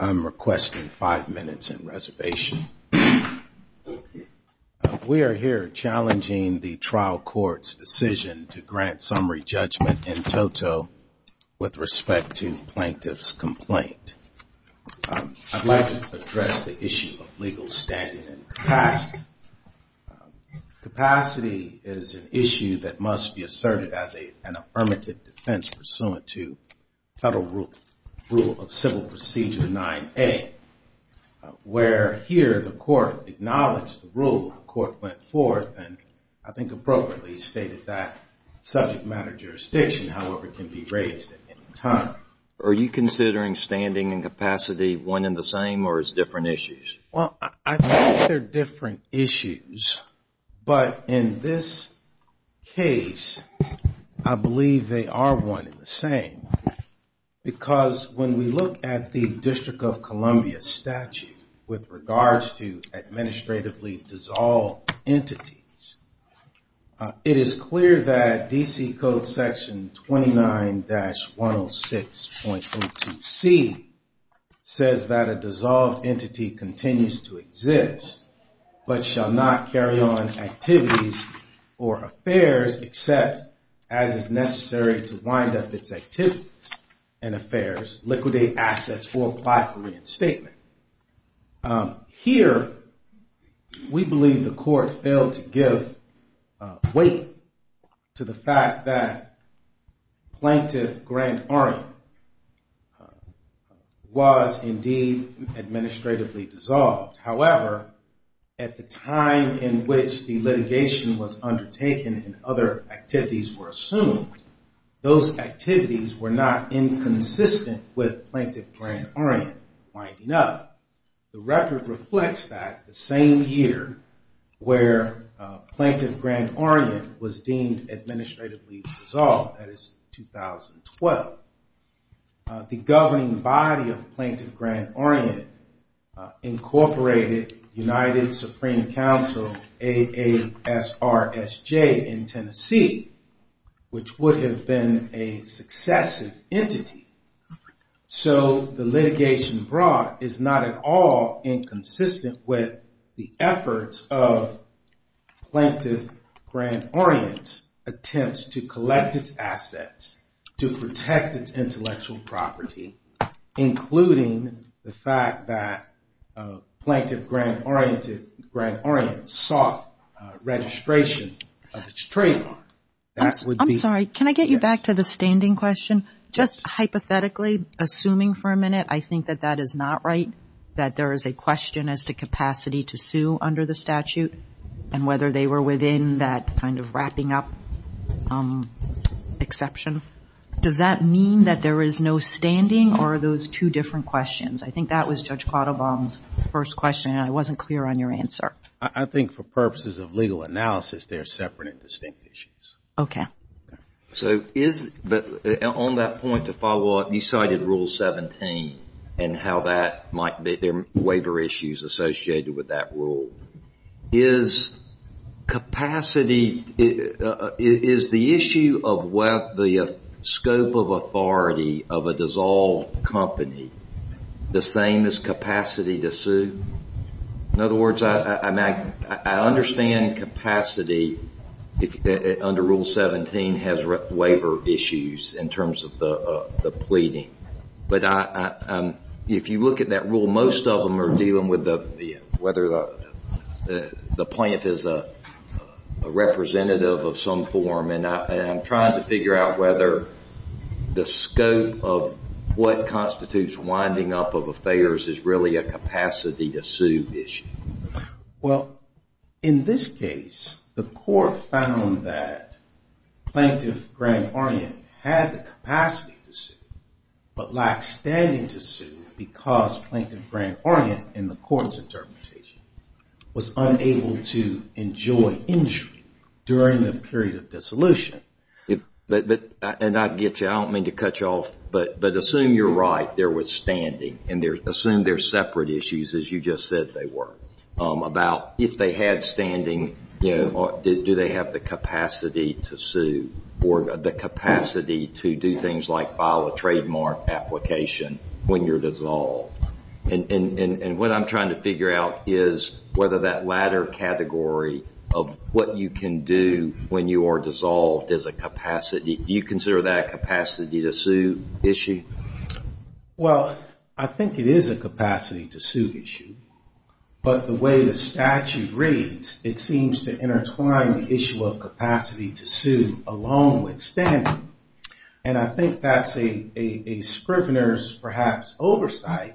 I'm requesting five minutes in reservation. We are here challenging the trial court's decision to grant summary judgment in toto with respect to plaintiff's complaint. I'd like to address the issue of legal standing and capacity. Capacity is an issue that must be asserted as an affirmative defense pursuant to Federal Rule of Civil Procedure 9A. Where here the court acknowledged the rule, the court went forth and I think appropriately stated that subject matter jurisdiction, however, can be raised at any time. Are you considering standing and capacity one and the same or is it different issues? Well, I think they're different issues, but in this case, I believe they are one and the same. Because when we look at the District of Columbia statute with regards to administratively dissolved entities, it is clear that D.C. Code section 29-106.02c says that a dissolved entity continues to exist but shall not carry on activities or affairs except as is necessary to wind up its activities and affairs, liquidate assets, or apply for reinstatement. Here, we believe the court failed to give weight to the fact that Plaintiff Grant Orient was indeed administratively dissolved. However, at the time in which the litigation was undertaken and other activities were assumed, those activities were not inconsistent with Plaintiff Grant Orient winding up. The record reflects that the same year where Plaintiff Grant Orient was deemed administratively dissolved, that is 2012. The governing body of Plaintiff Grant Orient incorporated United Supreme Council AASRSJ in Tennessee, which would have been a successive entity. So the litigation brought is not at all inconsistent with the efforts of Plaintiff Grant Orient's attempts to collect its assets to protect its intellectual property, including the fact that Plaintiff Grant Orient sought registration of its trademark. I'm sorry, can I get you back to the standing question? Yes. Just hypothetically, assuming for a minute, I think that that is not right, that there is a question as to capacity to sue under the statute and whether they were within that kind of wrapping up exception. Does that mean that there is no standing or are those two different questions? I think that was Judge Quattlebaum's first question and I wasn't clear on your answer. I think for purposes of legal analysis, they are separate and distinct issues. Okay. So on that point, to follow up, you cited Rule 17 and how there might be waiver issues associated with that rule. Is capacity, is the issue of whether the scope of authority of a dissolved company the same as capacity to sue? In other words, I understand capacity under Rule 17 has waiver issues in terms of the pleading. But if you look at that rule, most of them are dealing with whether the plaintiff is a representative of some form. And I'm trying to figure out whether the scope of what constitutes winding up of affairs is really a capacity to sue issue. Well, in this case, the court found that Plaintiff Grant Orient had the capacity to sue but lacked standing to sue because Plaintiff Grant Orient in the court's interpretation was unable to enjoy injury during the period of dissolution. And I get you, I don't mean to cut you off, but assume you're right, there was standing and assume they're separate issues as you just said they were. About if they had standing, do they have the capacity to sue or the capacity to do things like file a trademark application when you're dissolved? And what I'm trying to figure out is whether that latter category of what you can do when you are dissolved is a capacity. Do you consider that a capacity to sue issue? Well, I think it is a capacity to sue issue. But the way the statute reads, it seems to intertwine the issue of capacity to sue along with standing. And I think that's a scrivener's perhaps oversight,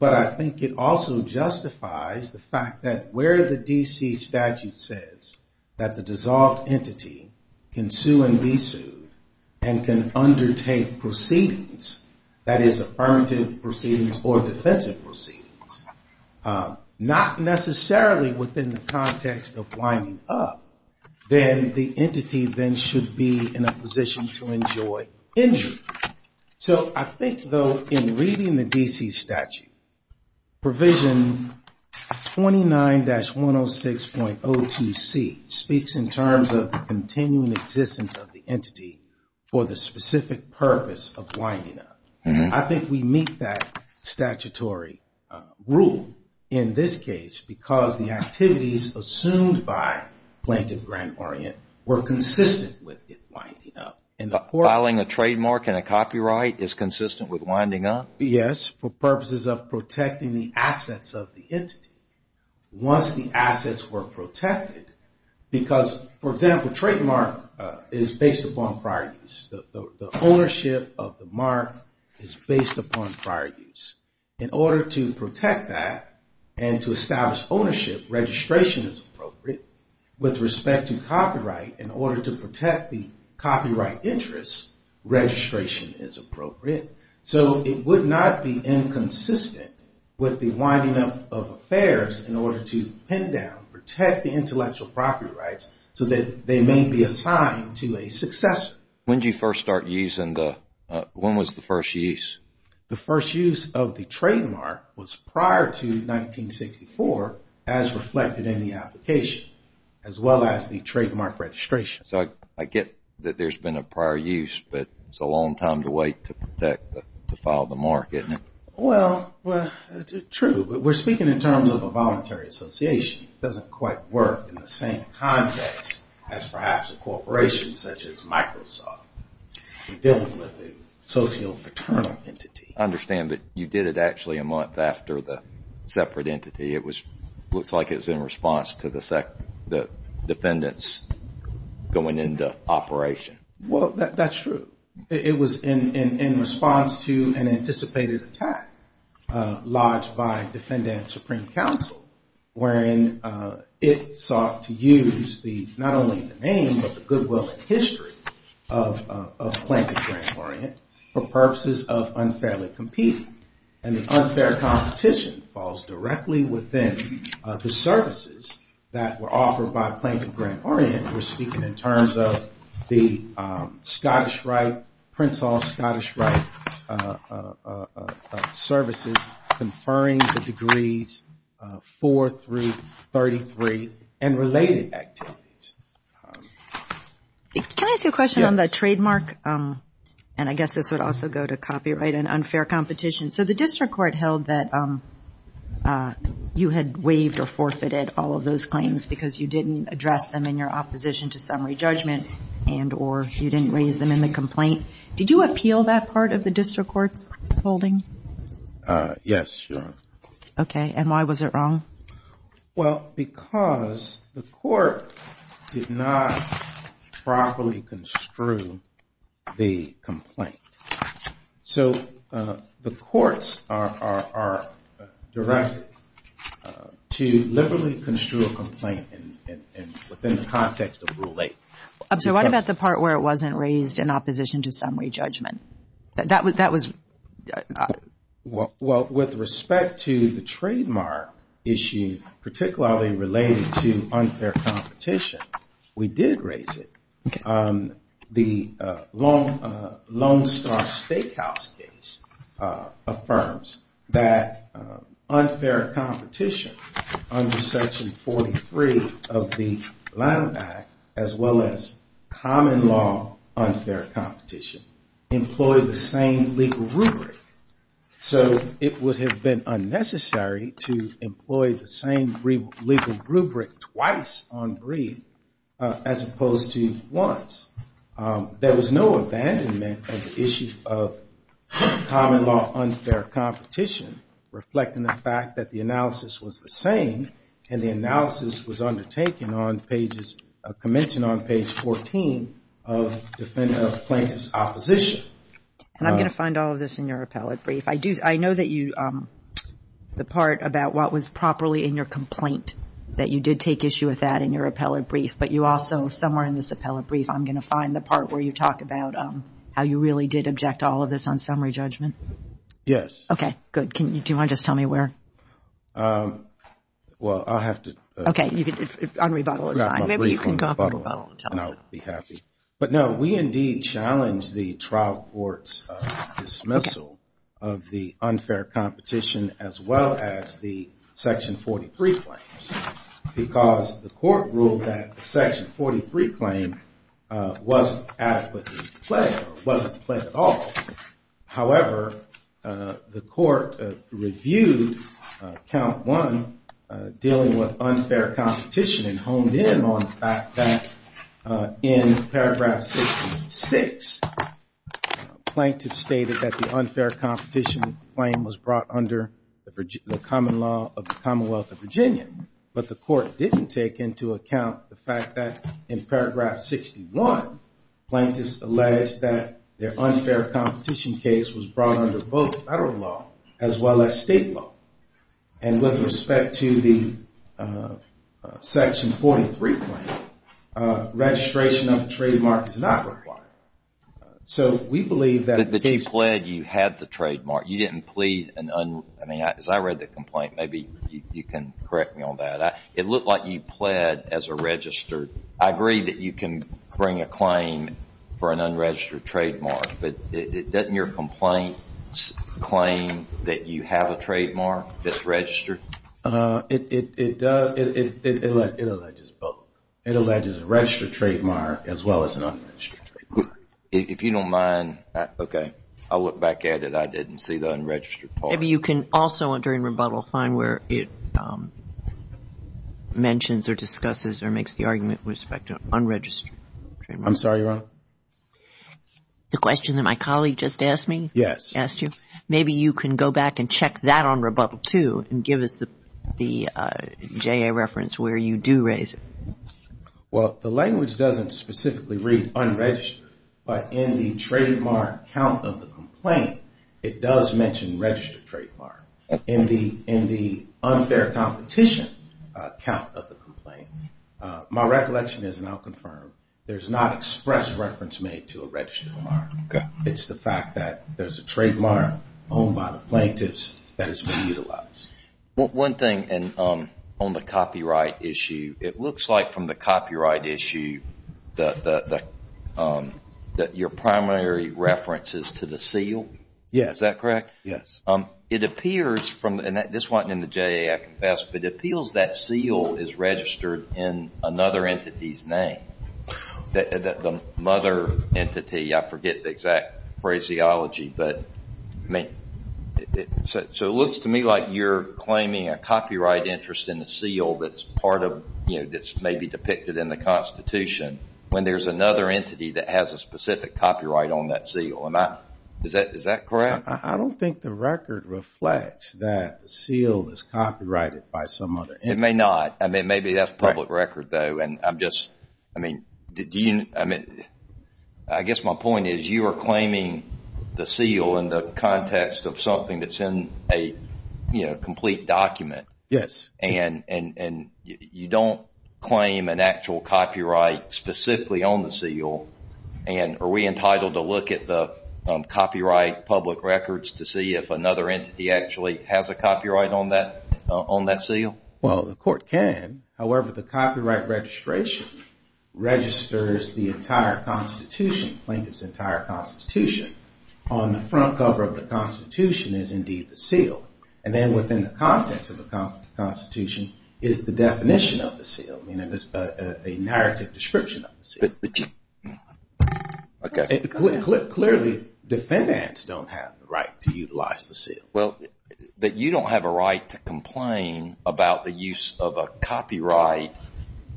but I think it also justifies the fact that where the D.C. statute says that the dissolved entity can sue and be sued and can undertake proceedings, that is affirmative proceedings or defensive proceedings, not necessarily within the context of winding up, then the entity then should be in a position to enjoy injury. So I think though in reading the D.C. statute, provision 29-106.02c speaks in terms of continuing existence of the entity for the specific purpose of winding up. I think we meet that statutory rule in this case because the activities assumed by Plaintiff Grant Orient were consistent with winding up. Filing a trademark and a copyright is consistent with winding up? Yes, for purposes of protecting the assets of the entity. Once the assets were protected, because for example, trademark is based upon prior use. The ownership of the mark is based upon prior use. In order to protect that and to establish ownership, registration is appropriate. With respect to copyright, in order to protect the copyright interest, registration is appropriate. So it would not be inconsistent with the winding up of affairs in order to pin down, protect the intellectual property rights so that they may be assigned to a successor. When did you first start using the – when was the first use? The first use of the trademark was prior to 1964 as reflected in the application, as well as the trademark registration. So I get that there's been a prior use, but it's a long time to wait to protect, to file the mark, isn't it? Well, true. We're speaking in terms of a voluntary association. It doesn't quite work in the same context as perhaps a corporation such as Microsoft. We're dealing with a socio-fraternal entity. I understand that you did it actually a month after the separate entity. It looks like it was in response to the defendants going into operation. Well, that's true. It was in response to an anticipated attack lodged by Defendant Supreme Council, wherein it sought to use not only the name but the goodwill and history of Plaintiff Grand Orient for purposes of unfairly competing. And the unfair competition falls directly within the services that were offered by Plaintiff Grand Orient. We're speaking in terms of the Scottish Rite, Prince Hall Scottish Rite services conferring the degrees 4 through 33 and related activities. Can I ask you a question on the trademark? And I guess this would also go to copyright and unfair competition. So the district court held that you had waived or forfeited all of those claims because you didn't address them in your opposition to summary judgment and or you didn't raise them in the complaint. Did you appeal that part of the district court's holding? Yes, Your Honor. Okay. And why was it wrong? Well, because the court did not properly construe the complaint. So the courts are directed to liberally construe a complaint within the context of Rule 8. So what about the part where it wasn't raised in opposition to summary judgment? Well, with respect to the trademark issue, particularly related to unfair competition, we did raise it. The Lone Star Steakhouse case affirms that unfair competition under Section 43 of the Lanham Act, as well as common law unfair competition, employed the same legal rubric. So it would have been unnecessary to employ the same legal rubric twice on brief as opposed to once. There was no abandonment of the issue of common law unfair competition, reflecting the fact that the analysis was the same. And the analysis was undertaken on pages, commenced on page 14 of plaintiff's opposition. And I'm going to find all of this in your appellate brief. I know that you, the part about what was properly in your complaint, that you did take issue with that in your appellate brief. But you also, somewhere in this appellate brief, I'm going to find the part where you talk about how you really did object to all of this on summary judgment. Yes. Okay. Good. Do you want to just tell me where? Well, I'll have to. Okay. On rebuttal, it's fine. Maybe you can talk on rebuttal and I'll be happy. But no, we indeed challenged the trial court's dismissal of the unfair competition as well as the section 43 claims. Because the court ruled that the section 43 claim wasn't adequately played, or wasn't played at all. However, the court reviewed count one, dealing with unfair competition, and honed in on the fact that in page 14, paragraph 66, plaintiff stated that the unfair competition claim was brought under the common law of the Commonwealth of Virginia. But the court didn't take into account the fact that in paragraph 61, plaintiffs alleged that their unfair competition case was brought under both federal law as well as state law. And with respect to the section 43 claim, registration of the trademark is not required. But you pled you had the trademark. As I read the complaint, maybe you can correct me on that, it looked like you pled as a registered. I agree that you can bring a claim for an unregistered trademark, but doesn't your complaint claim that you have a trademark? It does. It alleges both. It alleges a registered trademark as well as an unregistered trademark. If you don't mind, okay, I'll look back at it. I didn't see the unregistered part. Maybe you can also, during rebuttal, find where it mentions or discusses or makes the argument with respect to unregistered. I'm sorry, Your Honor? The question that my colleague just asked me? Yes. Asked you. Maybe you can go back and check that on rebuttal, too, and give us the JA reference where you do raise it. Well, the language doesn't specifically read unregistered, but in the trademark count of the complaint, it does mention registered trademark. In the unfair competition count of the complaint. My recollection is, and I'll confirm, there's not express reference made to a registered trademark. It's the fact that there's a trademark owned by the plaintiff's that has been utilized. One thing on the copyright issue, it looks like from the copyright issue that your primary reference is to the seal. Yes. It appears, and this wasn't in the JA, I confess, but it appears that seal is registered in another entity's name. The mother entity, I forget the exact phraseology, but it looks to me like you're claiming a copyright interest in the seal that's maybe depicted in the Constitution when there's another entity that has a specific copyright on that seal. Is that correct? I don't think the record reflects that the seal is copyrighted by some other entity. It may not. Maybe that's public record, though. I guess my point is you are claiming the seal in the context of something that's in a complete document. Yes. You don't claim an actual copyright specifically on the seal. Are we entitled to look at the copyright public records to see if another entity actually has a copyright on that seal? Well, the court can. However, the copyright registration registers the entire Constitution, the plaintiff's entire Constitution. On the front cover of the Constitution is indeed the seal. And then within the context of the Constitution is the definition of the seal, a narrative description of the seal. Clearly, defendants don't have the right to utilize the seal. But you don't have a right to complain about the use of a copyright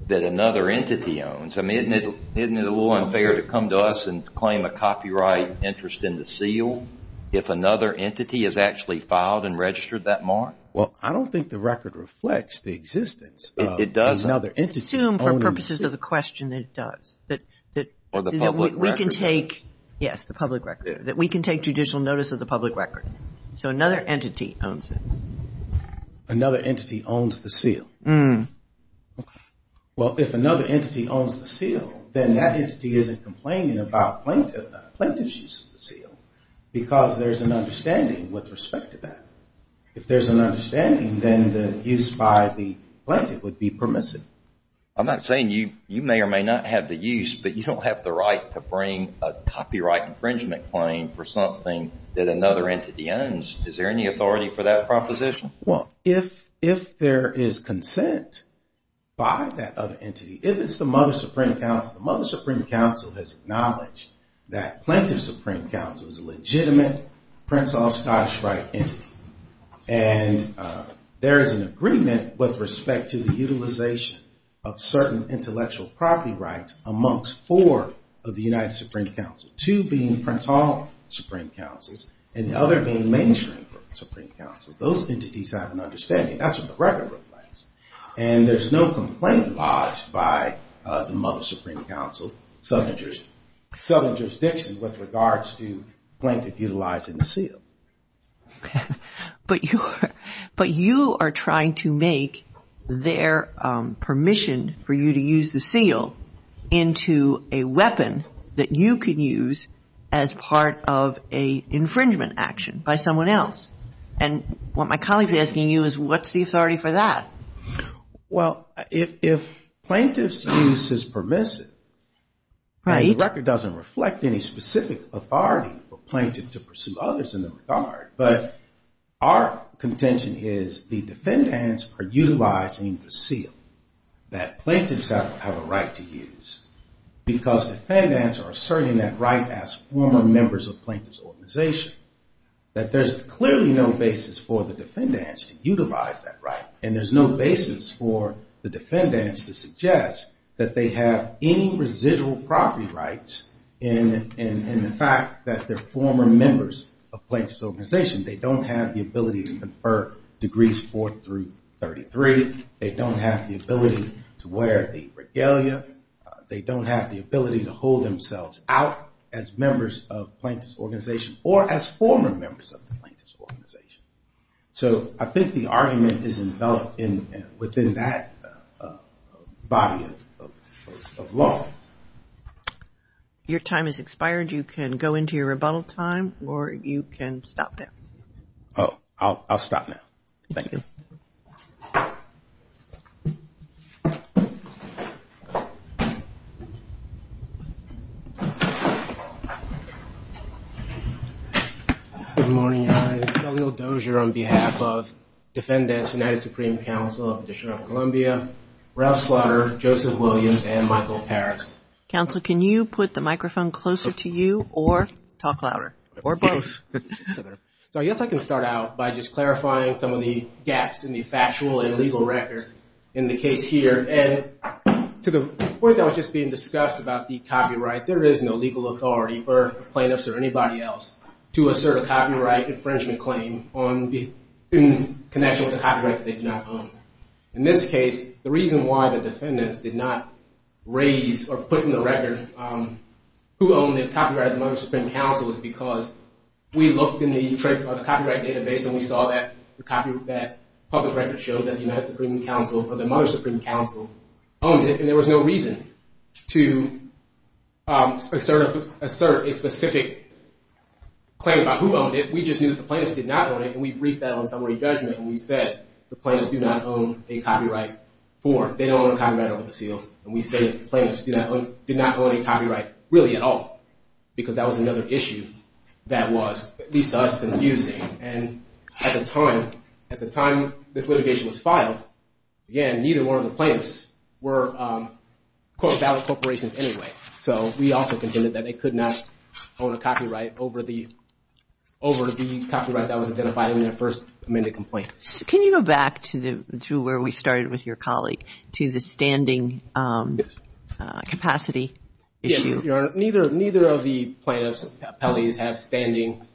that another entity owns. I mean, isn't it a little unfair to come to us and claim a copyright interest in the seal if another entity has actually filed and registered that mark? Well, I don't think the record reflects the existence of another entity owning the seal. Assume for purposes of the question that it does. Or the public record? Yes, the public record. That we can take judicial notice of the public record. So another entity owns it. Another entity owns the seal. Well, if another entity owns the seal, then that entity isn't complaining about plaintiff's use of the seal. Because there's an understanding with respect to that. If there's an understanding, then the use by the plaintiff would be permissive. I'm not saying you may or may not have the use, but you don't have the right to bring a copyright infringement claim for something that another entity owns. Is there any authority for that proposition? Well, if there is consent by that other entity, if it's the Mother Supreme Council, the Mother Supreme Council has acknowledged that Plaintiff's Supreme Council is a legitimate Prince Hall Scottish Rite entity. And there is an agreement with respect to the utilization of certain intellectual property rights amongst four of the United Supreme Council. Two being Prince Hall Supreme Councils and the other being Main Street Supreme Councils. Those entities have an understanding. That's what the record reflects. And there's no complaint lodged by the Mother Supreme Council, Southern Jurisdiction, with regards to plaintiff utilizing the seal. But you are trying to make their permission for you to use the seal into a weapon that you can use as part of an infringement action by someone else. And what my colleague is asking you is what's the authority for that? Well, if plaintiff's use is permissive and the record doesn't reflect any specific authority for plaintiff to pursue others in the regard. But our contention is the defendants are utilizing the seal that plaintiffs have a right to use. Because defendants are asserting that right as former members of plaintiff's organization. That there's clearly no basis for the defendants to utilize that right. And there's no basis for the defendants to suggest that they have any residual property rights in the fact that they're former members of plaintiff's organization. They don't have the ability to confer degrees 4 through 33. They don't have the ability to wear the regalia. They don't have the ability to hold themselves out as members of plaintiff's organization or as former members of the plaintiff's organization. So I think the argument is enveloped within that body of law. Your time has expired. You can go into your rebuttal time or you can stop now. Oh, I'll stop now. Thank you. Good morning. I'm Khalil Dozier on behalf of Defendants United Supreme Council of the District of Columbia, Ralph Slaughter, Joseph Williams, and Michael Parris. Counselor, can you put the microphone closer to you or talk louder? So I guess I can start out by just clarifying some of the gaps in the factual and legal record in the case here. And to the point that was just being discussed about the copyright, there is no legal authority for plaintiffs or anybody else to assert a copyright infringement claim in connection with a copyright that they do not own. In this case, the reason why the defendants did not raise or put in the record who owned the copyright of the Mother Supreme Council is because we looked in the copyright database and we saw that public record showed that the United Supreme Council or the Mother Supreme Council owned it, and there was no reason to assert a specific claim about who owned it. We just knew that the plaintiffs did not own it, and we briefed that on summary judgment, and we said the plaintiffs do not own a copyright for, they don't own a copyright over the seal. And we say the plaintiffs did not own a copyright really at all, because that was another issue that was, at least to us, confusing. And at the time this litigation was filed, again, neither one of the plaintiffs were, quote, valid corporations anyway. So we also contended that they could not own a copyright over the copyright that was identified in their first amended complaint. Can you go back to where we started with your colleague, to the standing capacity issue? Yes, Your Honor. Neither of the plaintiffs' appellees had standing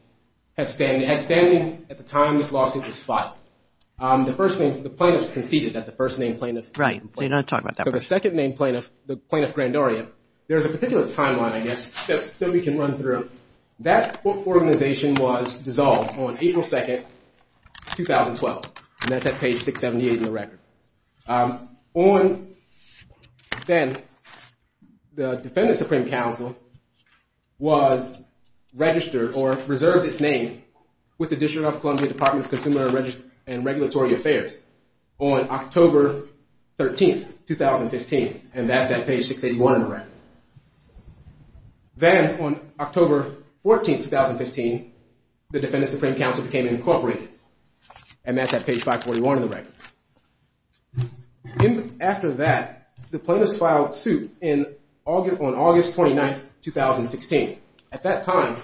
at the time this lawsuit was filed. The plaintiffs conceded that the first named plaintiff... That organization was dissolved on April 2nd, 2012. And that's at page 678 in the record. Then the Defendant Supreme Council was registered or reserved its name with the District of Columbia Department of Consumer and Regulatory Affairs on October 13th, 2015. And that's at page 681 in the record. Then on October 14th, 2015, the Defendant Supreme Council became incorporated. And that's at page 541 in the record. After that, the plaintiffs filed suit on August 29th, 2016. At that time,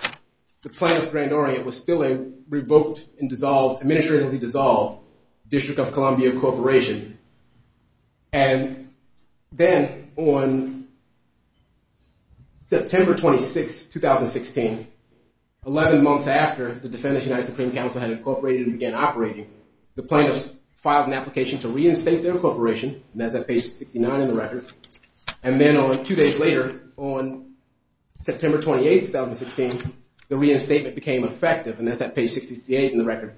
the plaintiff, Grand Orient, was still a revoked and dissolved... Administratively dissolved District of Columbia Corporation. And then on September 26th, 2016, 11 months after the Defendant Supreme Council had incorporated and began operating, the plaintiffs filed an application to reinstate their corporation. And that's at page 69 in the record. And then two days later, on September 28th, 2016, the reinstatement became effective. And that's at page 68 in the record.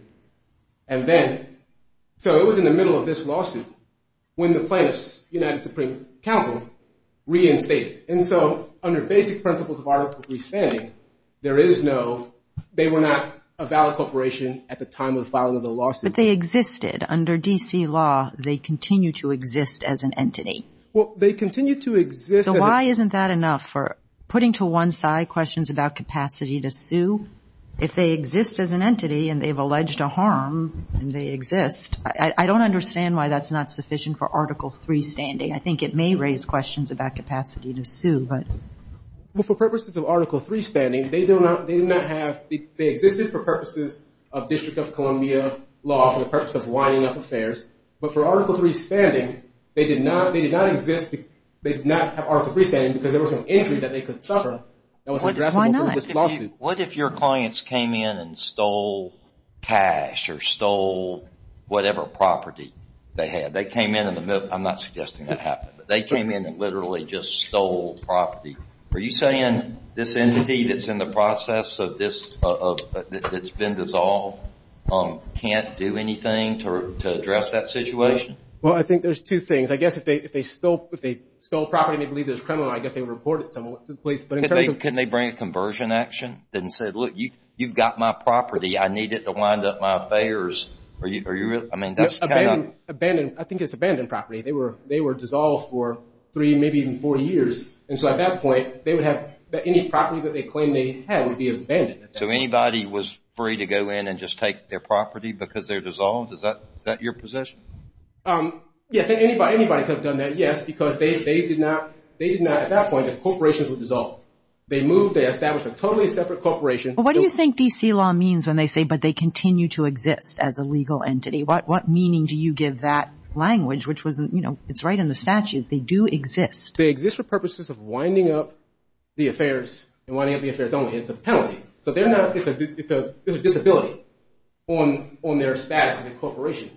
So it was in the middle of this lawsuit when the plaintiffs, United Supreme Council, reinstated. They were not a valid corporation at the time of the filing of the lawsuit. But they existed. Under D.C. law, they continue to exist as an entity. So why isn't that enough for putting to one side questions about capacity to sue? If they exist as an entity and they've alleged a harm and they exist, I don't understand why that's not sufficient for Article III standing. I think it may raise questions about capacity to sue. For purposes of Article III standing, they existed for purposes of District of Columbia law, for the purpose of winding up affairs. But for Article III standing, they did not exist. They did not have Article III standing because there was an injury that they could suffer that was addressable in this lawsuit. What if your clients came in and stole cash or stole whatever property they had? They came in and literally just stole property. Are you saying this entity that's in the process of this, that's been dissolved, can't do anything to address that situation? Well, I think there's two things. I guess if they stole property and they believed it was criminal, I guess they would report it to the police. Couldn't they bring a conversion action and say, look, you've got my property. I need it to wind up my affairs. I think it's abandoned property. They were dissolved for three, maybe even four years. And so at that point, any property that they claimed they had would be abandoned. So anybody was free to go in and just take their property because they're dissolved? Is that your position? Yes, anybody could have done that, yes, because at that point, the corporations were dissolved. They moved, they established a totally separate corporation. What do you think D.C. law means when they say, but they continue to exist as a legal entity? What meaning do you give that language? It's right in the statute. They do exist. They exist for purposes of winding up the affairs and winding up the affairs only. It's a penalty. It's a disability on their status as a corporation.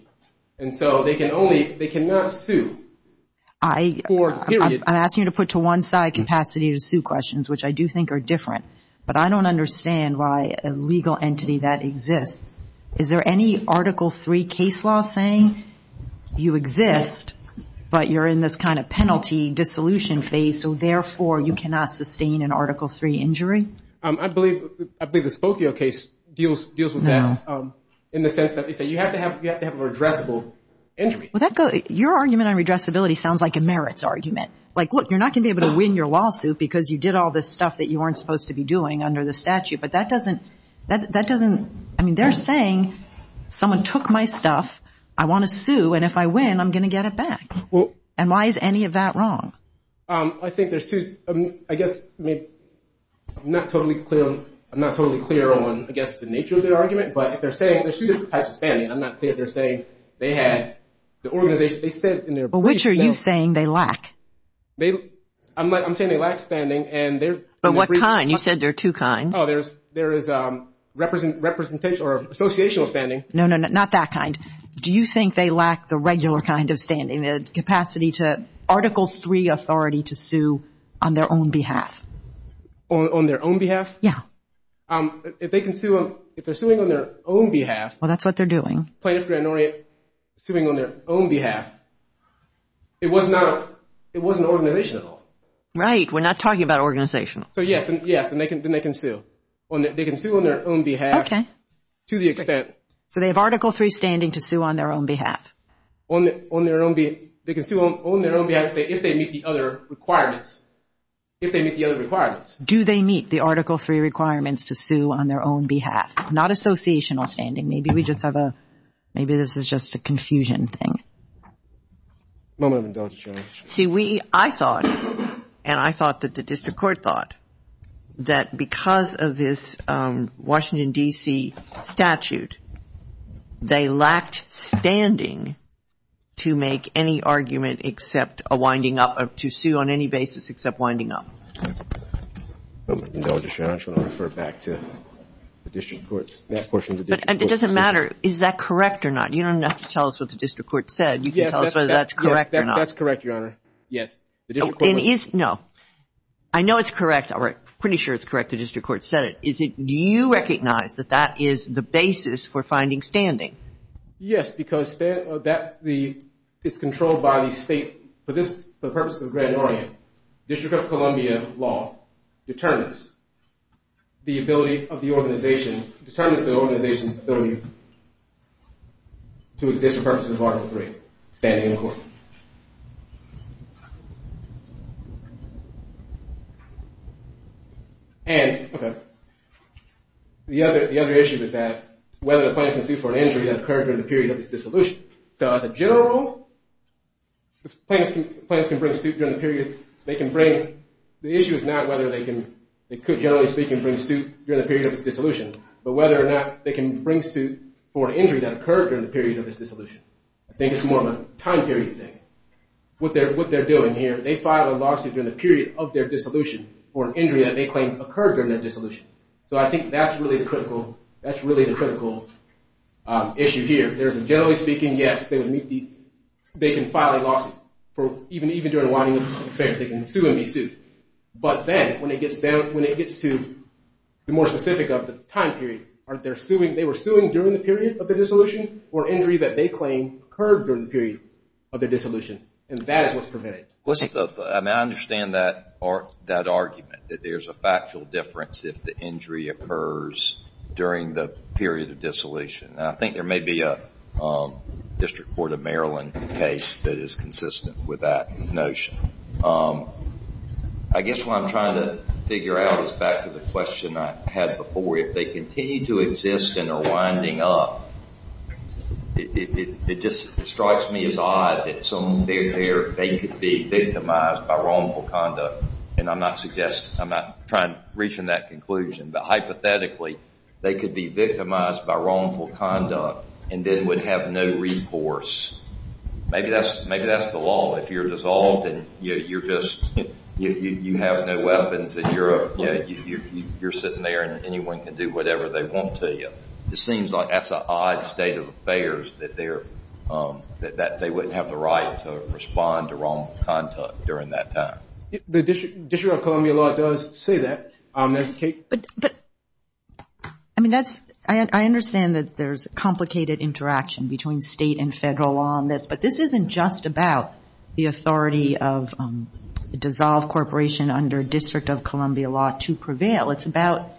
And so they can only, they cannot sue. I'm asking you to put to one side capacity to sue questions, which I do think are different. But I don't understand why a legal entity that exists, is there any Article III case law saying you exist, but you're in this kind of penalty dissolution phase, so therefore you cannot sustain an Article III injury? I believe the Spokio case deals with that in the sense that they say you have to have a redressable injury. Your argument on redressability sounds like a merits argument. Like, look, you're not going to be able to win your lawsuit because you did all this stuff that you weren't supposed to be doing under the statute. But that doesn't, I mean, they're saying someone took my stuff, I want to sue, and if I win, I'm going to get it back. And why is any of that wrong? I think there's two, I guess, I'm not totally clear on, I'm not totally clear on, I guess, the nature of their argument, but if they're saying, there's two different types of standing. I'm not clear if they're saying they had the organization, they said in their brief. Well, which are you saying they lack? I'm saying they lack standing. But what kind? You said there are two kinds. Oh, there is representational or associational standing. No, no, no, not that kind. Do you think they lack the regular kind of standing, the capacity to, Article III authority to sue on their own behalf? On their own behalf? Yeah. If they're suing on their own behalf. Well, that's what they're doing. Plaintiff grand orate suing on their own behalf, it wasn't organizational. Right, we're not talking about organizational. So, yes, and they can sue. They can sue on their own behalf. Okay. To the extent. So, they have Article III standing to sue on their own behalf. On their own behalf, if they meet the other requirements. Do they meet the Article III requirements to sue on their own behalf? Not associational standing. Maybe we just have a, maybe this is just a confusion thing. A moment of indulgence, Your Honor. See, we, I thought, and I thought that the district court thought, that because of this Washington, D.C. statute, they lacked standing to make any argument except a winding up, to sue on any basis except winding up. A moment of indulgence, Your Honor. I just want to refer back to the district courts, that portion of the district courts. But, it doesn't matter, is that correct or not? You don't have to tell us what the district court said. You can tell us whether that's correct or not. Yes, that's correct, Your Honor. Yes. No, I know it's correct, or I'm pretty sure it's correct, the district court said it. Do you recognize that that is the basis for finding standing? Yes, because that, it's controlled by the state. For the purpose of the grand orate, District of Columbia law determines the ability of the organization, determines the organization's ability to find standing. And determines the organization's ability to exist for purposes of Article III, standing in court. And, okay, the other issue is that whether the plaintiff can sue for an injury that occurred during the period of his dissolution. So, as a general rule, if plaintiffs can bring suit during the period, they can bring, the issue is not whether they can, generally speaking, bring suit during the period of his dissolution, but whether or not they can bring suit for an injury that occurred during the period of his dissolution. I think it's more of a time period thing. What they're doing here, they file a lawsuit during the period of their dissolution for an injury that they claim occurred during their dissolution. So, I think that's really the critical, that's really the critical issue here. There's a, generally speaking, yes, they would meet the, they can file a lawsuit for, even during a whining offense. They can sue and be sued. But then, when it gets down, when it gets to the more specific of the time period, are they suing, they were suing during the period of their dissolution, or injury that they claim occurred during the period of their dissolution. And that is what's prevented. I mean, I understand that argument, that there's a factual difference if the injury occurs during the period of dissolution. And I think there may be a District Court of Maryland case that is consistent with that notion. I guess what I'm trying to figure out is back to the question I had before. If they continue to exist and are winding up, it just strikes me as odd that they could be victimized by wrongful conduct. And I'm not suggesting, I'm not trying to reach that conclusion. But hypothetically, they could be victimized by wrongful conduct and then would have no recourse. Maybe that's the law. If you're dissolved and you're just, you have no weapons, you're sitting there and anyone can do whatever they want to you. It seems like that's an odd state of affairs, that they wouldn't have the right to respond to wrongful conduct during that time. The District of Columbia law does say that. I mean, I understand that there's a complicated interaction between state and federal law on this. But this isn't just about the authority of a dissolved corporation under District of Columbia law to prevail. It's about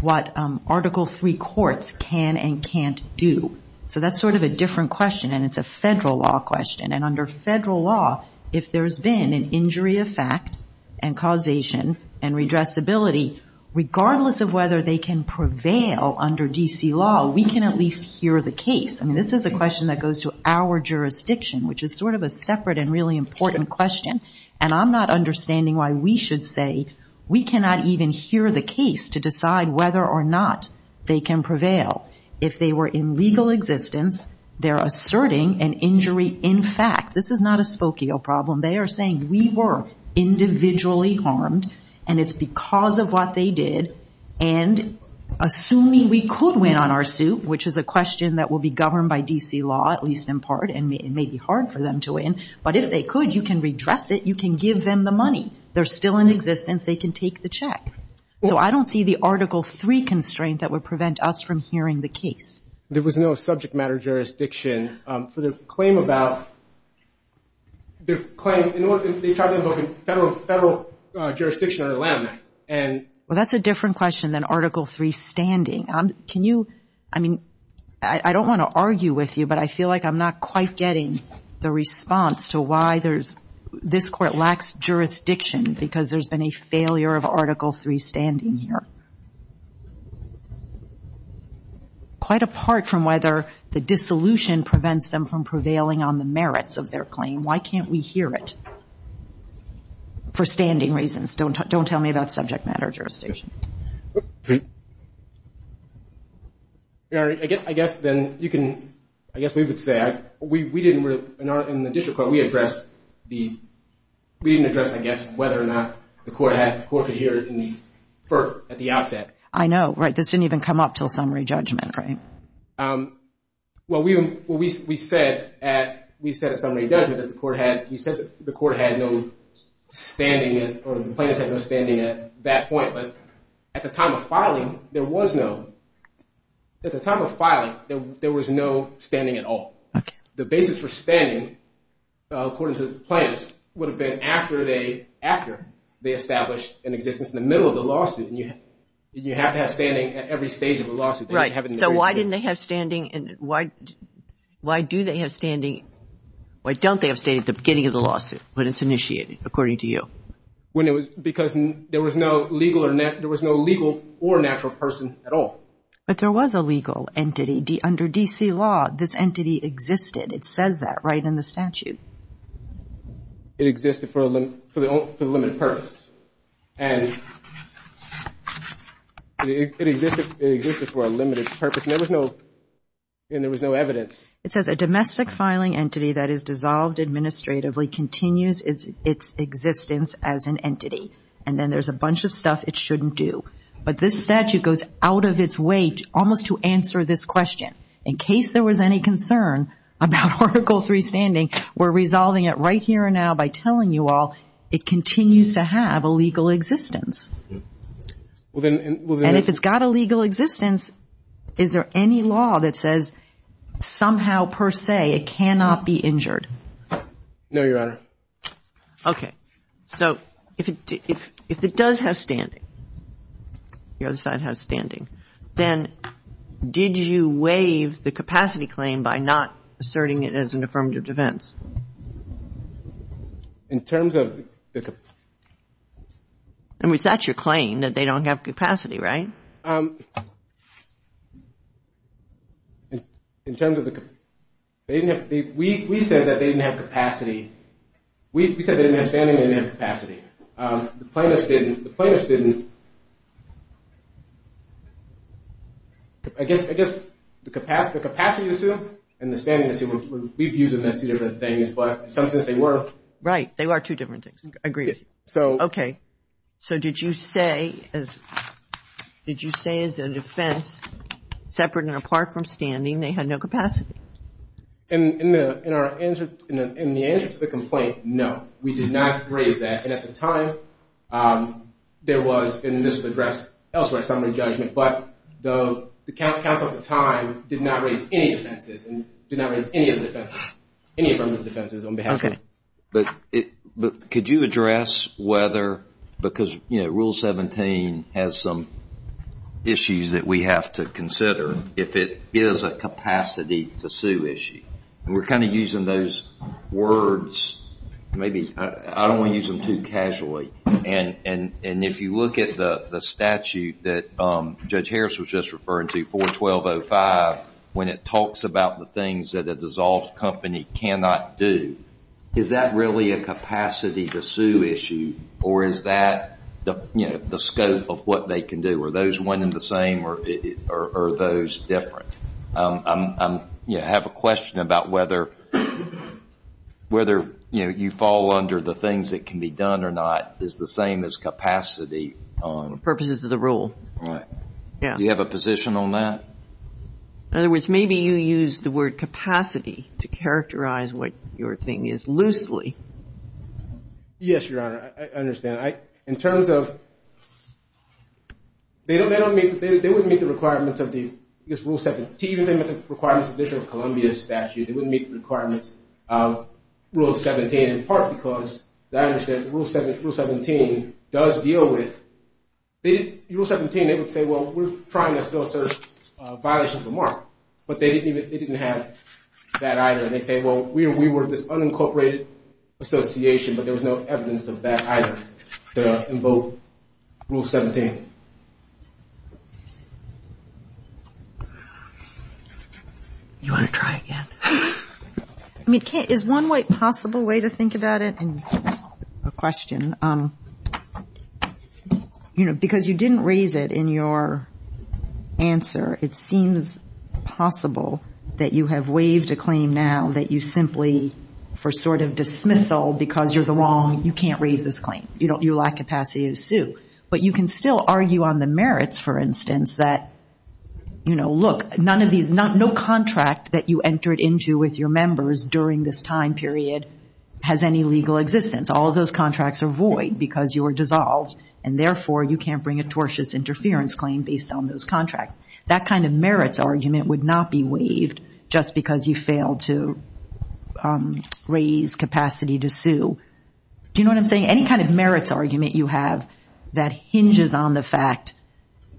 what Article III courts can and can't do. So that's sort of a different question. And it's a federal law question. And under federal law, if there's been an injury of fact and causation and redressability, regardless of whether they can prevail under D.C. law, we can at least hear the case. I mean, this is a question that goes to our jurisdiction, which is sort of a separate and really important question. And I'm not understanding why we should say we cannot even hear the case to decide whether or not they can prevail. If they were in legal existence, they're asserting an injury in fact. This is not a spokio problem. They are saying we were individually harmed, and it's because of what they did. And assuming we could win on our suit, which is a question that will be governed by D.C. law, at least in part, and it may be hard for them to win. But if they could, you can redress it. You can give them the money. They're still in existence. They can take the check. So I don't see the Article III constraint that would prevent us from hearing the case. There was no subject matter jurisdiction for the claim about the claim in order to talk about federal jurisdiction under the Land Act. Well, that's a different question than Article III standing. I don't want to argue with you, but I feel like I'm not quite getting the response to why this Court lacks jurisdiction because there's been a failure of Article III standing here. Quite apart from whether the dissolution prevents them from prevailing on the merits of their claim. Why can't we hear it? For standing reasons. Don't tell me about subject matter jurisdiction. I guess we would say, in the District Court, we didn't address whether or not the Court could hear it at the outset. I know. This didn't even come up until summary judgment, right? Well, we said at summary judgment that the Court had no standing or the plaintiffs had no standing at that point. But at the time of filing, there was no standing at all. The basis for standing, according to the plaintiffs, would have been after they established an existence in the middle of the lawsuit. You have to have standing at every stage of a lawsuit. So why didn't they have standing? Why don't they have standing at the beginning of the lawsuit when it's initiated, according to you? Because there was no legal or natural person at all. But there was a legal entity. Under D.C. law, this entity existed. It says that right in the statute. It existed for the limited purpose. It existed for a limited purpose. And there was no evidence. It says a domestic filing entity that is dissolved administratively continues its existence as an entity. And then there's a bunch of stuff it shouldn't do. But this statute goes out of its way almost to answer this question. In case there was any concern about Article 3 standing, we're resolving it right here and now by telling you all it continues to have a legal existence. And if it's got a legal existence, is there any law that says somehow per se it cannot be injured? No, Your Honor. Okay. So if it does have standing, the other side has standing, then did you waive the capacity claim by not asserting it as an affirmative defense? In terms of the... I mean, is that your claim, that they don't have capacity, right? In terms of the... We said that they didn't have capacity. We said they didn't have standing, they didn't have capacity. The plaintiffs didn't. I guess the capacity assumed and the standing assumed, we viewed them as two different things, but in some sense they were. Right, they were two different things. Agreed. So did you say as a defense separate and apart from standing they had no capacity? In the answer to the complaint, no, we did not raise that. And at the time there was and this was addressed elsewhere in summary judgment, but the counsel at the time did not raise any offenses and did not raise any affirmative defenses on behalf of me. Okay. But could you address whether, because Rule 17 has some issues that we have to consider if it is a capacity to sue issue. And we're kind of using those words maybe, I don't want to use them too casually. And if you look at the statute that Judge Harris was just referring to, 41205 when it talks about the things that a dissolved company cannot do, is that really a capacity to sue issue or is that the scope of what they can do? Are those one and the same or are those different? I have a question about whether you fall under the things that can be done or not is the same as capacity. For purposes of the rule. Do you have a position on that? In other words, maybe you use the word capacity to characterize what your thing is loosely. Yes, Your Honor. I understand. In terms of they wouldn't meet the requirements of the Rule 17, even the requirements of the District of Columbia statute they wouldn't meet the requirements of Rule 17 in part because the rule 17 does deal with Rule 17 they would say, well we're trying to still search violations of a mark. But they didn't have that either. They say, well we were this unincorporated association but there was no evidence of that either to invoke Rule 17. You want to try again? Is one possible way to think about it? A question. You know, because you didn't raise it in your answer, it seems possible that you have waived a claim now that you simply for sort of dismissal because you're the wrong, you can't raise this claim. You lack capacity to sue. But you can still argue on the merits, for instance, that look, none of these, no contract that you entered into with your members during this time period has any legal existence. All of those contracts are void because you were dissolved and therefore you can't bring a tortuous interference claim based on those contracts. That kind of merits argument would not be waived just because you failed to raise capacity to sue. Do you know what I'm saying? Any kind of merits argument you have that hinges on the fact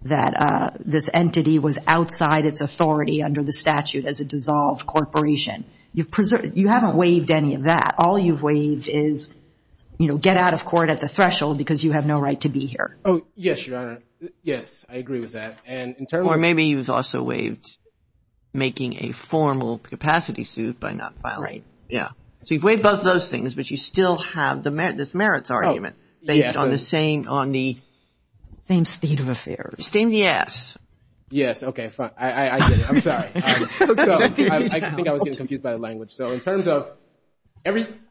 that this entity was outside its authority under the statute as a dissolved corporation. You haven't waived any of that. All you've waived is, you know, get out of court at the threshold because you have no right to be here. Yes, I agree with that. Or maybe you've also waived making a formal capacity suit by not filing. So you've waived both those things but you still have this merits argument based on the same state of affairs. Yes. I'm sorry. I think I was getting confused by the language. So in terms of,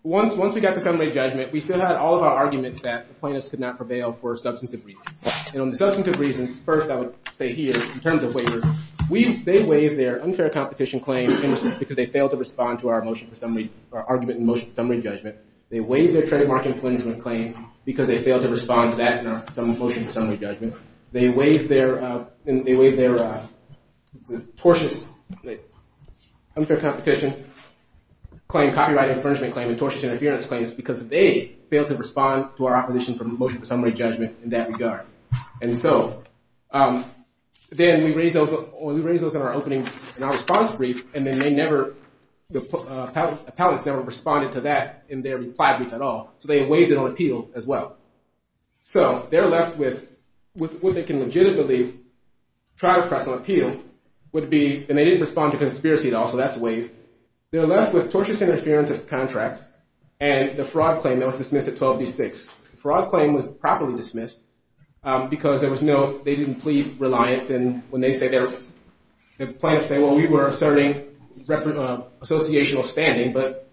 once we got to summary judgment, we still had all of our arguments that plaintiffs could not prevail for substantive reasons. And on the substantive reasons first I would say here, in terms of waiver, they waived their unfair competition claim because they failed to respond to our motion for summary, our argument in motion for summary judgment. They waived their trademark infringement claim because they failed to respond to that in our motion for summary judgment. They waived their tortuous unfair competition claim, copyright infringement claim, and tortious interference claims because they failed to respond to our opposition for motion for summary judgment in that regard. And so then we raised those in our opening in our response brief and then they never the appellants never responded to that in their reply brief at all. So they waived it on appeal as well. So they're left with what they can legitimately try to press on appeal would be and they didn't respond to conspiracy at all so that's waived. They're left with tortious interference of contract and the fraud claim that was dismissed at 12D6. The fraud claim was properly dismissed because there was no, they didn't complete reliance and when they say they're the plaintiffs say well we were asserting associational standing but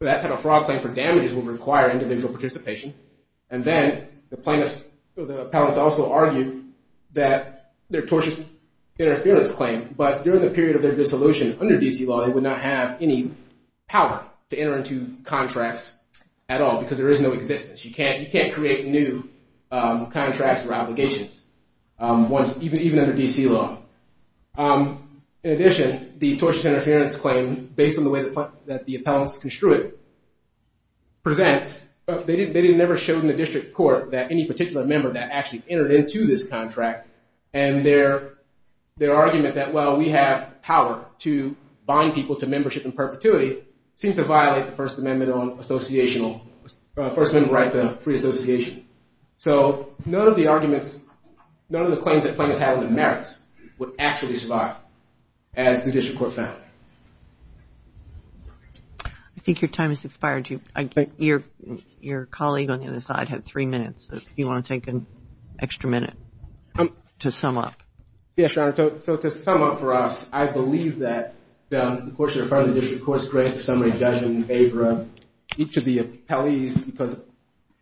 that type of fraud claim for damages would require individual participation and then the plaintiffs, the appellants also argue that their tortious interference claim but during the period of their dissolution under D.C. law they would not have any power to enter into contracts at all because there is no existence. You can't create new contracts or obligations even under D.C. law. In addition the tortious interference claim based on the way that the appellants construed it presents they never showed in the district court that any particular member that actually entered into this contract and their argument that well we have power to bind people to membership in perpetuity seems to violate the first amendment on associational first amendment right to free association. So none of the arguments, none of the claims that plaintiffs have in the merits would actually survive as the district court found. I think your time has expired. Your colleague on the other side had three minutes if you want to take an extra minute to sum up. Yes, your honor. So to sum up for us I believe that the court should refer to the district court's summary judgment in favor of each of the appellees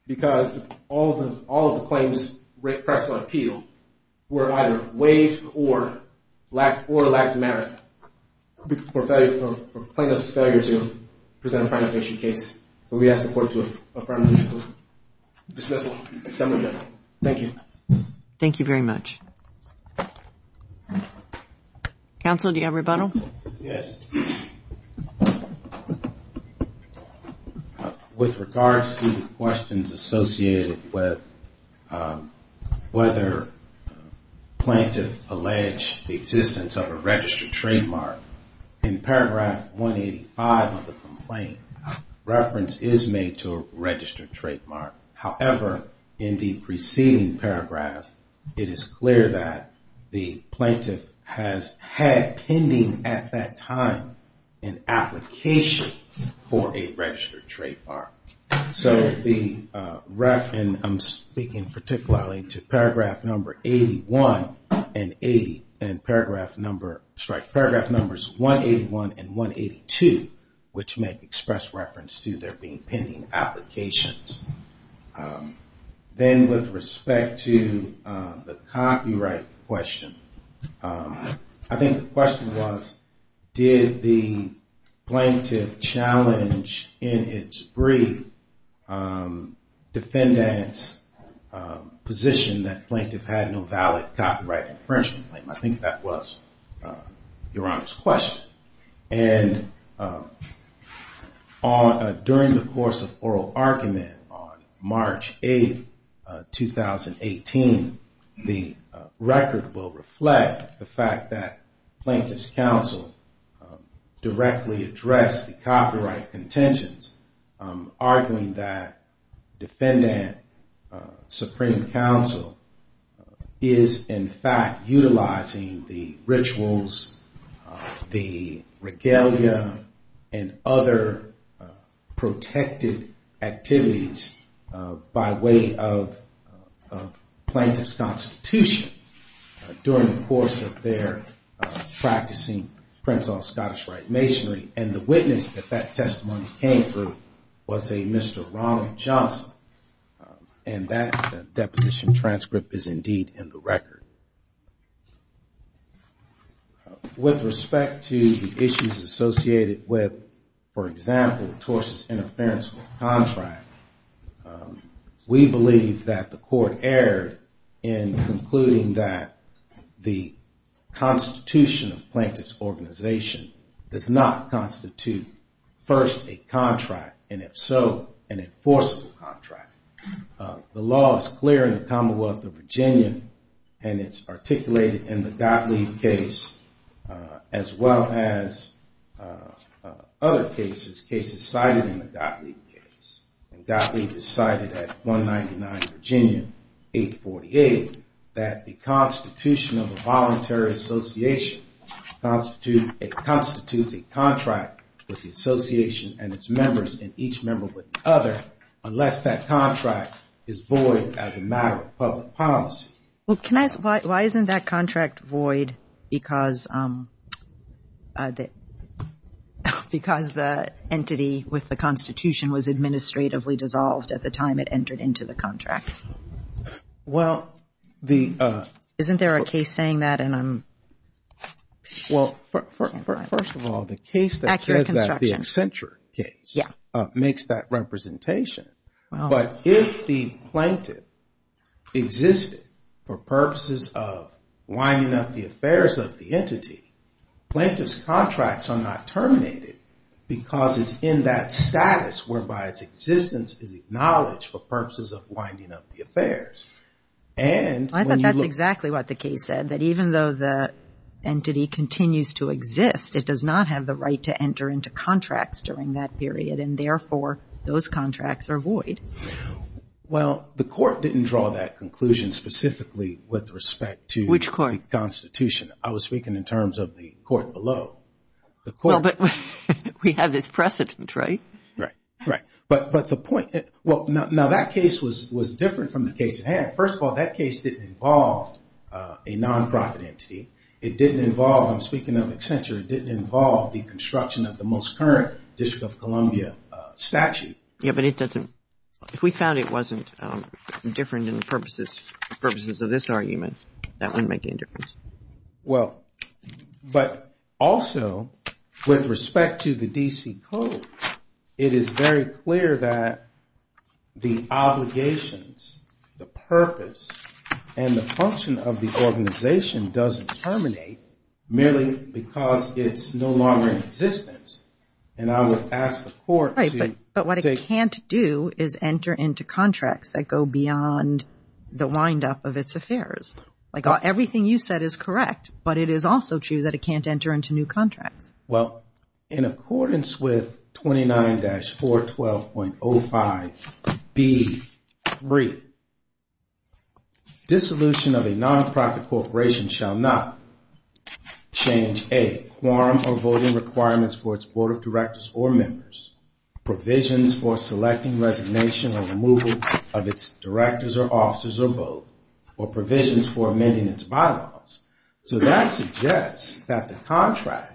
because all of the claims pressed for appeal were either waived or lacked merit for plaintiff's failure to present a primary patient case. So we ask the court to affirm the dismissal of the summary judgment. Thank you. Thank you very much. Counsel do you have rebuttal? Yes. With regards to the questions associated with whether plaintiff alleged the existence of a registered trademark in paragraph 185 of the complaint reference is made to a registered trademark. However, in the preceding paragraph it is clear that the plaintiff has had pending at that time an application for a registered trademark. So the reference I'm speaking particularly to paragraph number 81 and paragraph number 181 and 182 which make express reference to there being pending applications. Then with respect to the copyright question I think the question was did the plaintiff challenge in its brief defendants position that plaintiff had no valid copyright infringement claim. I think that was Your Honor's question. During the course of oral argument on March 8th 2018 the record will reflect the fact that plaintiff's counsel directly addressed the copyright contentions arguing that defendant supreme counsel is in fact utilizing the rituals, the regalia and other protected activities by way of plaintiff's constitution during the course of their practicing Prenzlau Scottish Rite Masonry and the witness that that testimony came for was a Mr. Ronald Johnson and that deposition transcript is indeed in the record. With respect to the issues associated with for example the tortious interference with contract we believe that the court erred in concluding that the constitution of plaintiff's organization does not constitute first a contract and if so an enforceable contract. The law is clear in the Commonwealth of Virginia and it's articulated in the Gottlieb case as well as other cases cited in the Gottlieb case. Gottlieb decided at 199 Virginia 848 that the constitution of the voluntary association constitutes a contract with the association and its members and each member with the other unless that contract is void as a matter of public policy. Why isn't that contract void because because the entity with the constitution was administratively dissolved at the time it entered into the contract? Well the Isn't there a case saying that and I'm Well first of all the case that says that the Accenture case makes that representation but if the plaintiff existed for purposes of winding up the affairs of the entity plaintiff's contracts are not terminated because it's in that status whereby its existence is acknowledged for purposes of winding up the affairs and I thought that's exactly what the case said that even though the entity continues to exist it does not have the right to enter into contracts during that period and therefore those contracts are void. Well the court didn't draw that conclusion specifically with respect to the constitution. I was speaking in terms of the court below. Well but we have this precedent, right? Right, right. But the point Now that case was different from the case at hand. First of all that case didn't involve a non-profit entity it didn't involve, I'm speaking of Accenture, it didn't involve the construction of the most current District of Columbia statute. Yeah but it doesn't If we found it wasn't different in the purposes of this argument that wouldn't make any difference. Well but also with respect to the D.C. Code it is very clear that the obligations, the purpose and the function of the organization doesn't terminate merely because it's no longer in existence and I would ask the court Right, but what it can't do is enter into contracts that go beyond the wind-up of its affairs. Like everything you said is correct but it is also true that it can't enter into new contracts. Well in accordance with 29-412.05b3 dissolution of a non-profit corporation shall not change a quorum or voting requirements for its board of directors or members provisions for selecting resignation or removal of its directors or officers or both or provisions for amending its bylaws so that suggests that the contract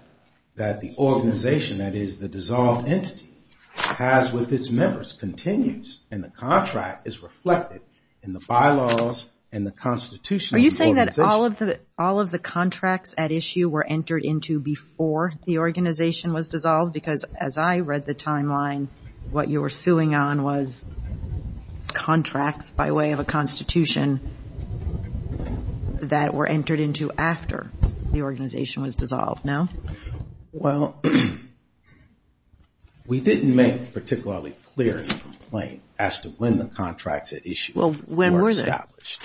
that the organization, that is the dissolved entity has with its members continues and the contract is reflected in the bylaws and the constitution of the organization. Are you saying that all of the contracts at issue were entered into before the organization was dissolved because as I read the timeline what you were suing on was contracts by way of a constitution that were entered into after the organization was dissolved, no? Well, we didn't make particularly clear in the complaint as to when the contracts at issue were established.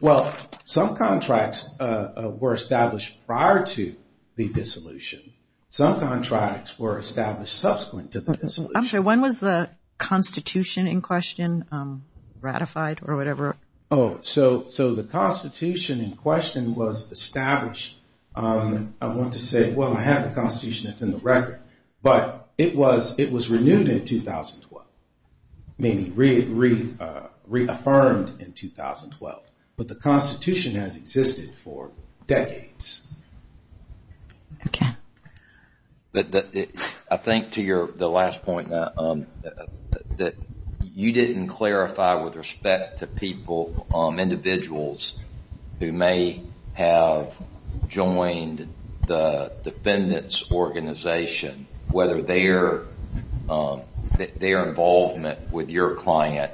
Well, some contracts were established prior to the dissolution. Some contracts were established subsequent to the dissolution. I'm sorry, when was the constitution in question ratified or whatever? Oh, so the constitution in question was established I want to say, well I have the constitution that's in the record, but it was renewed in 2012, meaning reaffirmed in 2012 but the constitution has existed for decades. Okay. I think to your last point that you didn't clarify with respect to people, individuals who may have joined the defendant's organization whether their involvement with your client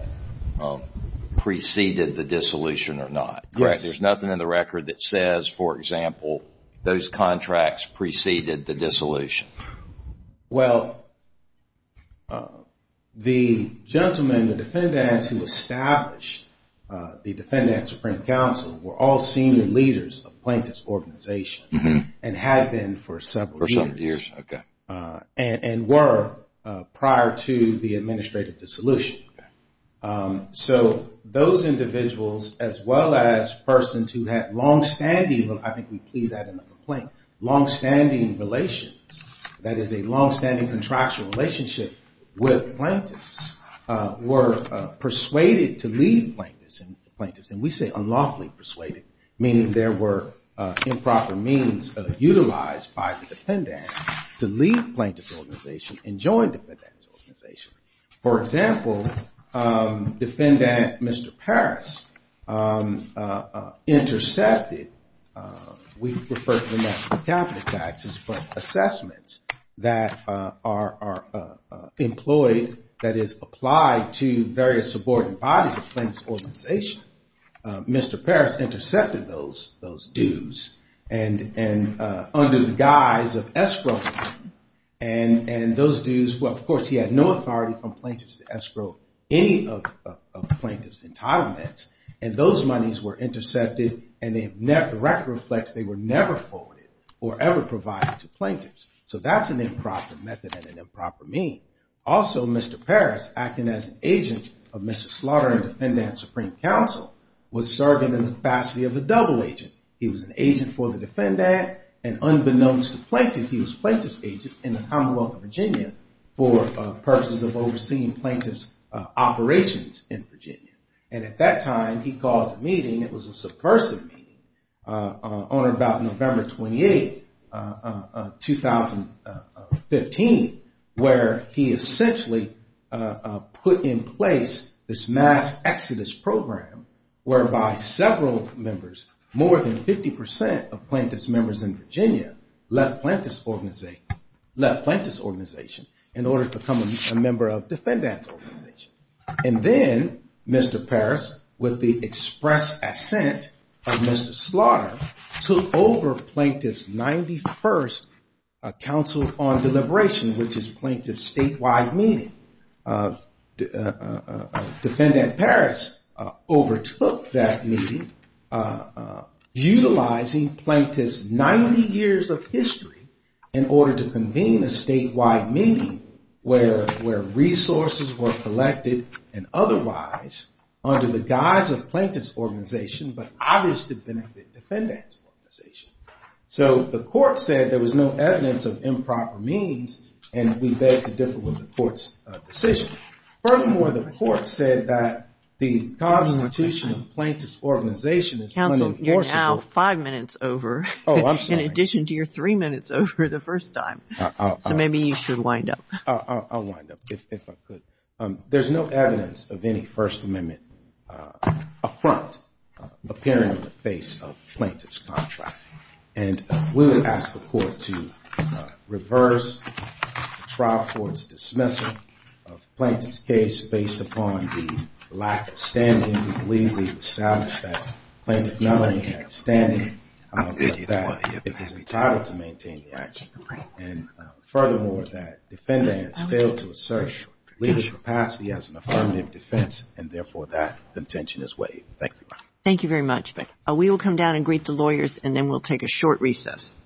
preceded the dissolution or not. Correct, there's nothing in the record that says, for example those contracts preceded the dissolution. Well, the gentlemen, the defendants who established the Defendant Supreme Counsel were all senior leaders of plaintiff's organization and had been for several years. And were prior to the administrative dissolution. So those individuals, as well as persons who had long-standing, I think we plead that in the complaint long-standing relations, that is a long-standing contractual relationship with plaintiffs, were persuaded to leave plaintiffs, and we say unlawfully persuaded meaning there were improper means utilized by the defendants to leave the plaintiff's organization and join the defendant's organization. For example, defendant Mr. Parris intercepted, we refer to them as capital taxes, but assessments that are employed that is applied to various subordinate bodies of plaintiff's organization. Mr. Parris intercepted those dues and under the guise of escrow and those dues, well of course he had no authority from plaintiffs to escrow any of plaintiff's entitlements and those monies were intercepted and the record reflects they were never forwarded or ever provided to plaintiffs. So that's an improper method and an improper mean. Also Mr. Parris acting as an agent of Mr. Slaughter and Defendant Supreme Counsel was serving in the capacity of a double agent. He was an agent for the defendant and unbeknownst to plaintiff, he was plaintiff's agent in the Commonwealth of Virginia for purposes of overseeing plaintiff's operations in Virginia. And at that time he called a meeting, it was a subversive meeting on about November 28 2015 where he essentially put in place this mass exodus program whereby several members, more than 50% of plaintiff's members in Virginia left plaintiff's organization in order to become a member of defendant's organization. And then Mr. Parris with the express assent of Mr. Slaughter took over plaintiff's 91st Council on Deliberation which is plaintiff's statewide meeting Defendant Parris overtook that meeting utilizing plaintiff's 90 years of history in order to convene a statewide meeting where resources were collected and otherwise under the guise of plaintiff's organization but obviously benefit defendant's organization. So the court said there was no evidence of improper means and we beg to with the court's decision. Furthermore the court said that the constitution of plaintiff's organization is unenforceable. Counselor, you're now five minutes over in addition to your three minutes over the first time. So maybe you should wind up. I'll wind up if I could. There's no evidence of any First Amendment affront appearing on the face of plaintiff's contract and we would ask the court to reverse the trial court's dismissal of plaintiff's case based upon the lack of standing. We believe we've established that plaintiff not only had standing but that it was entitled to maintain the action and furthermore that defendants failed to assert legal capacity as an affirmative defense and therefore that intention is waived. Thank you. Thank you very much. We will come down and greet the lawyers and then we'll take a short recess.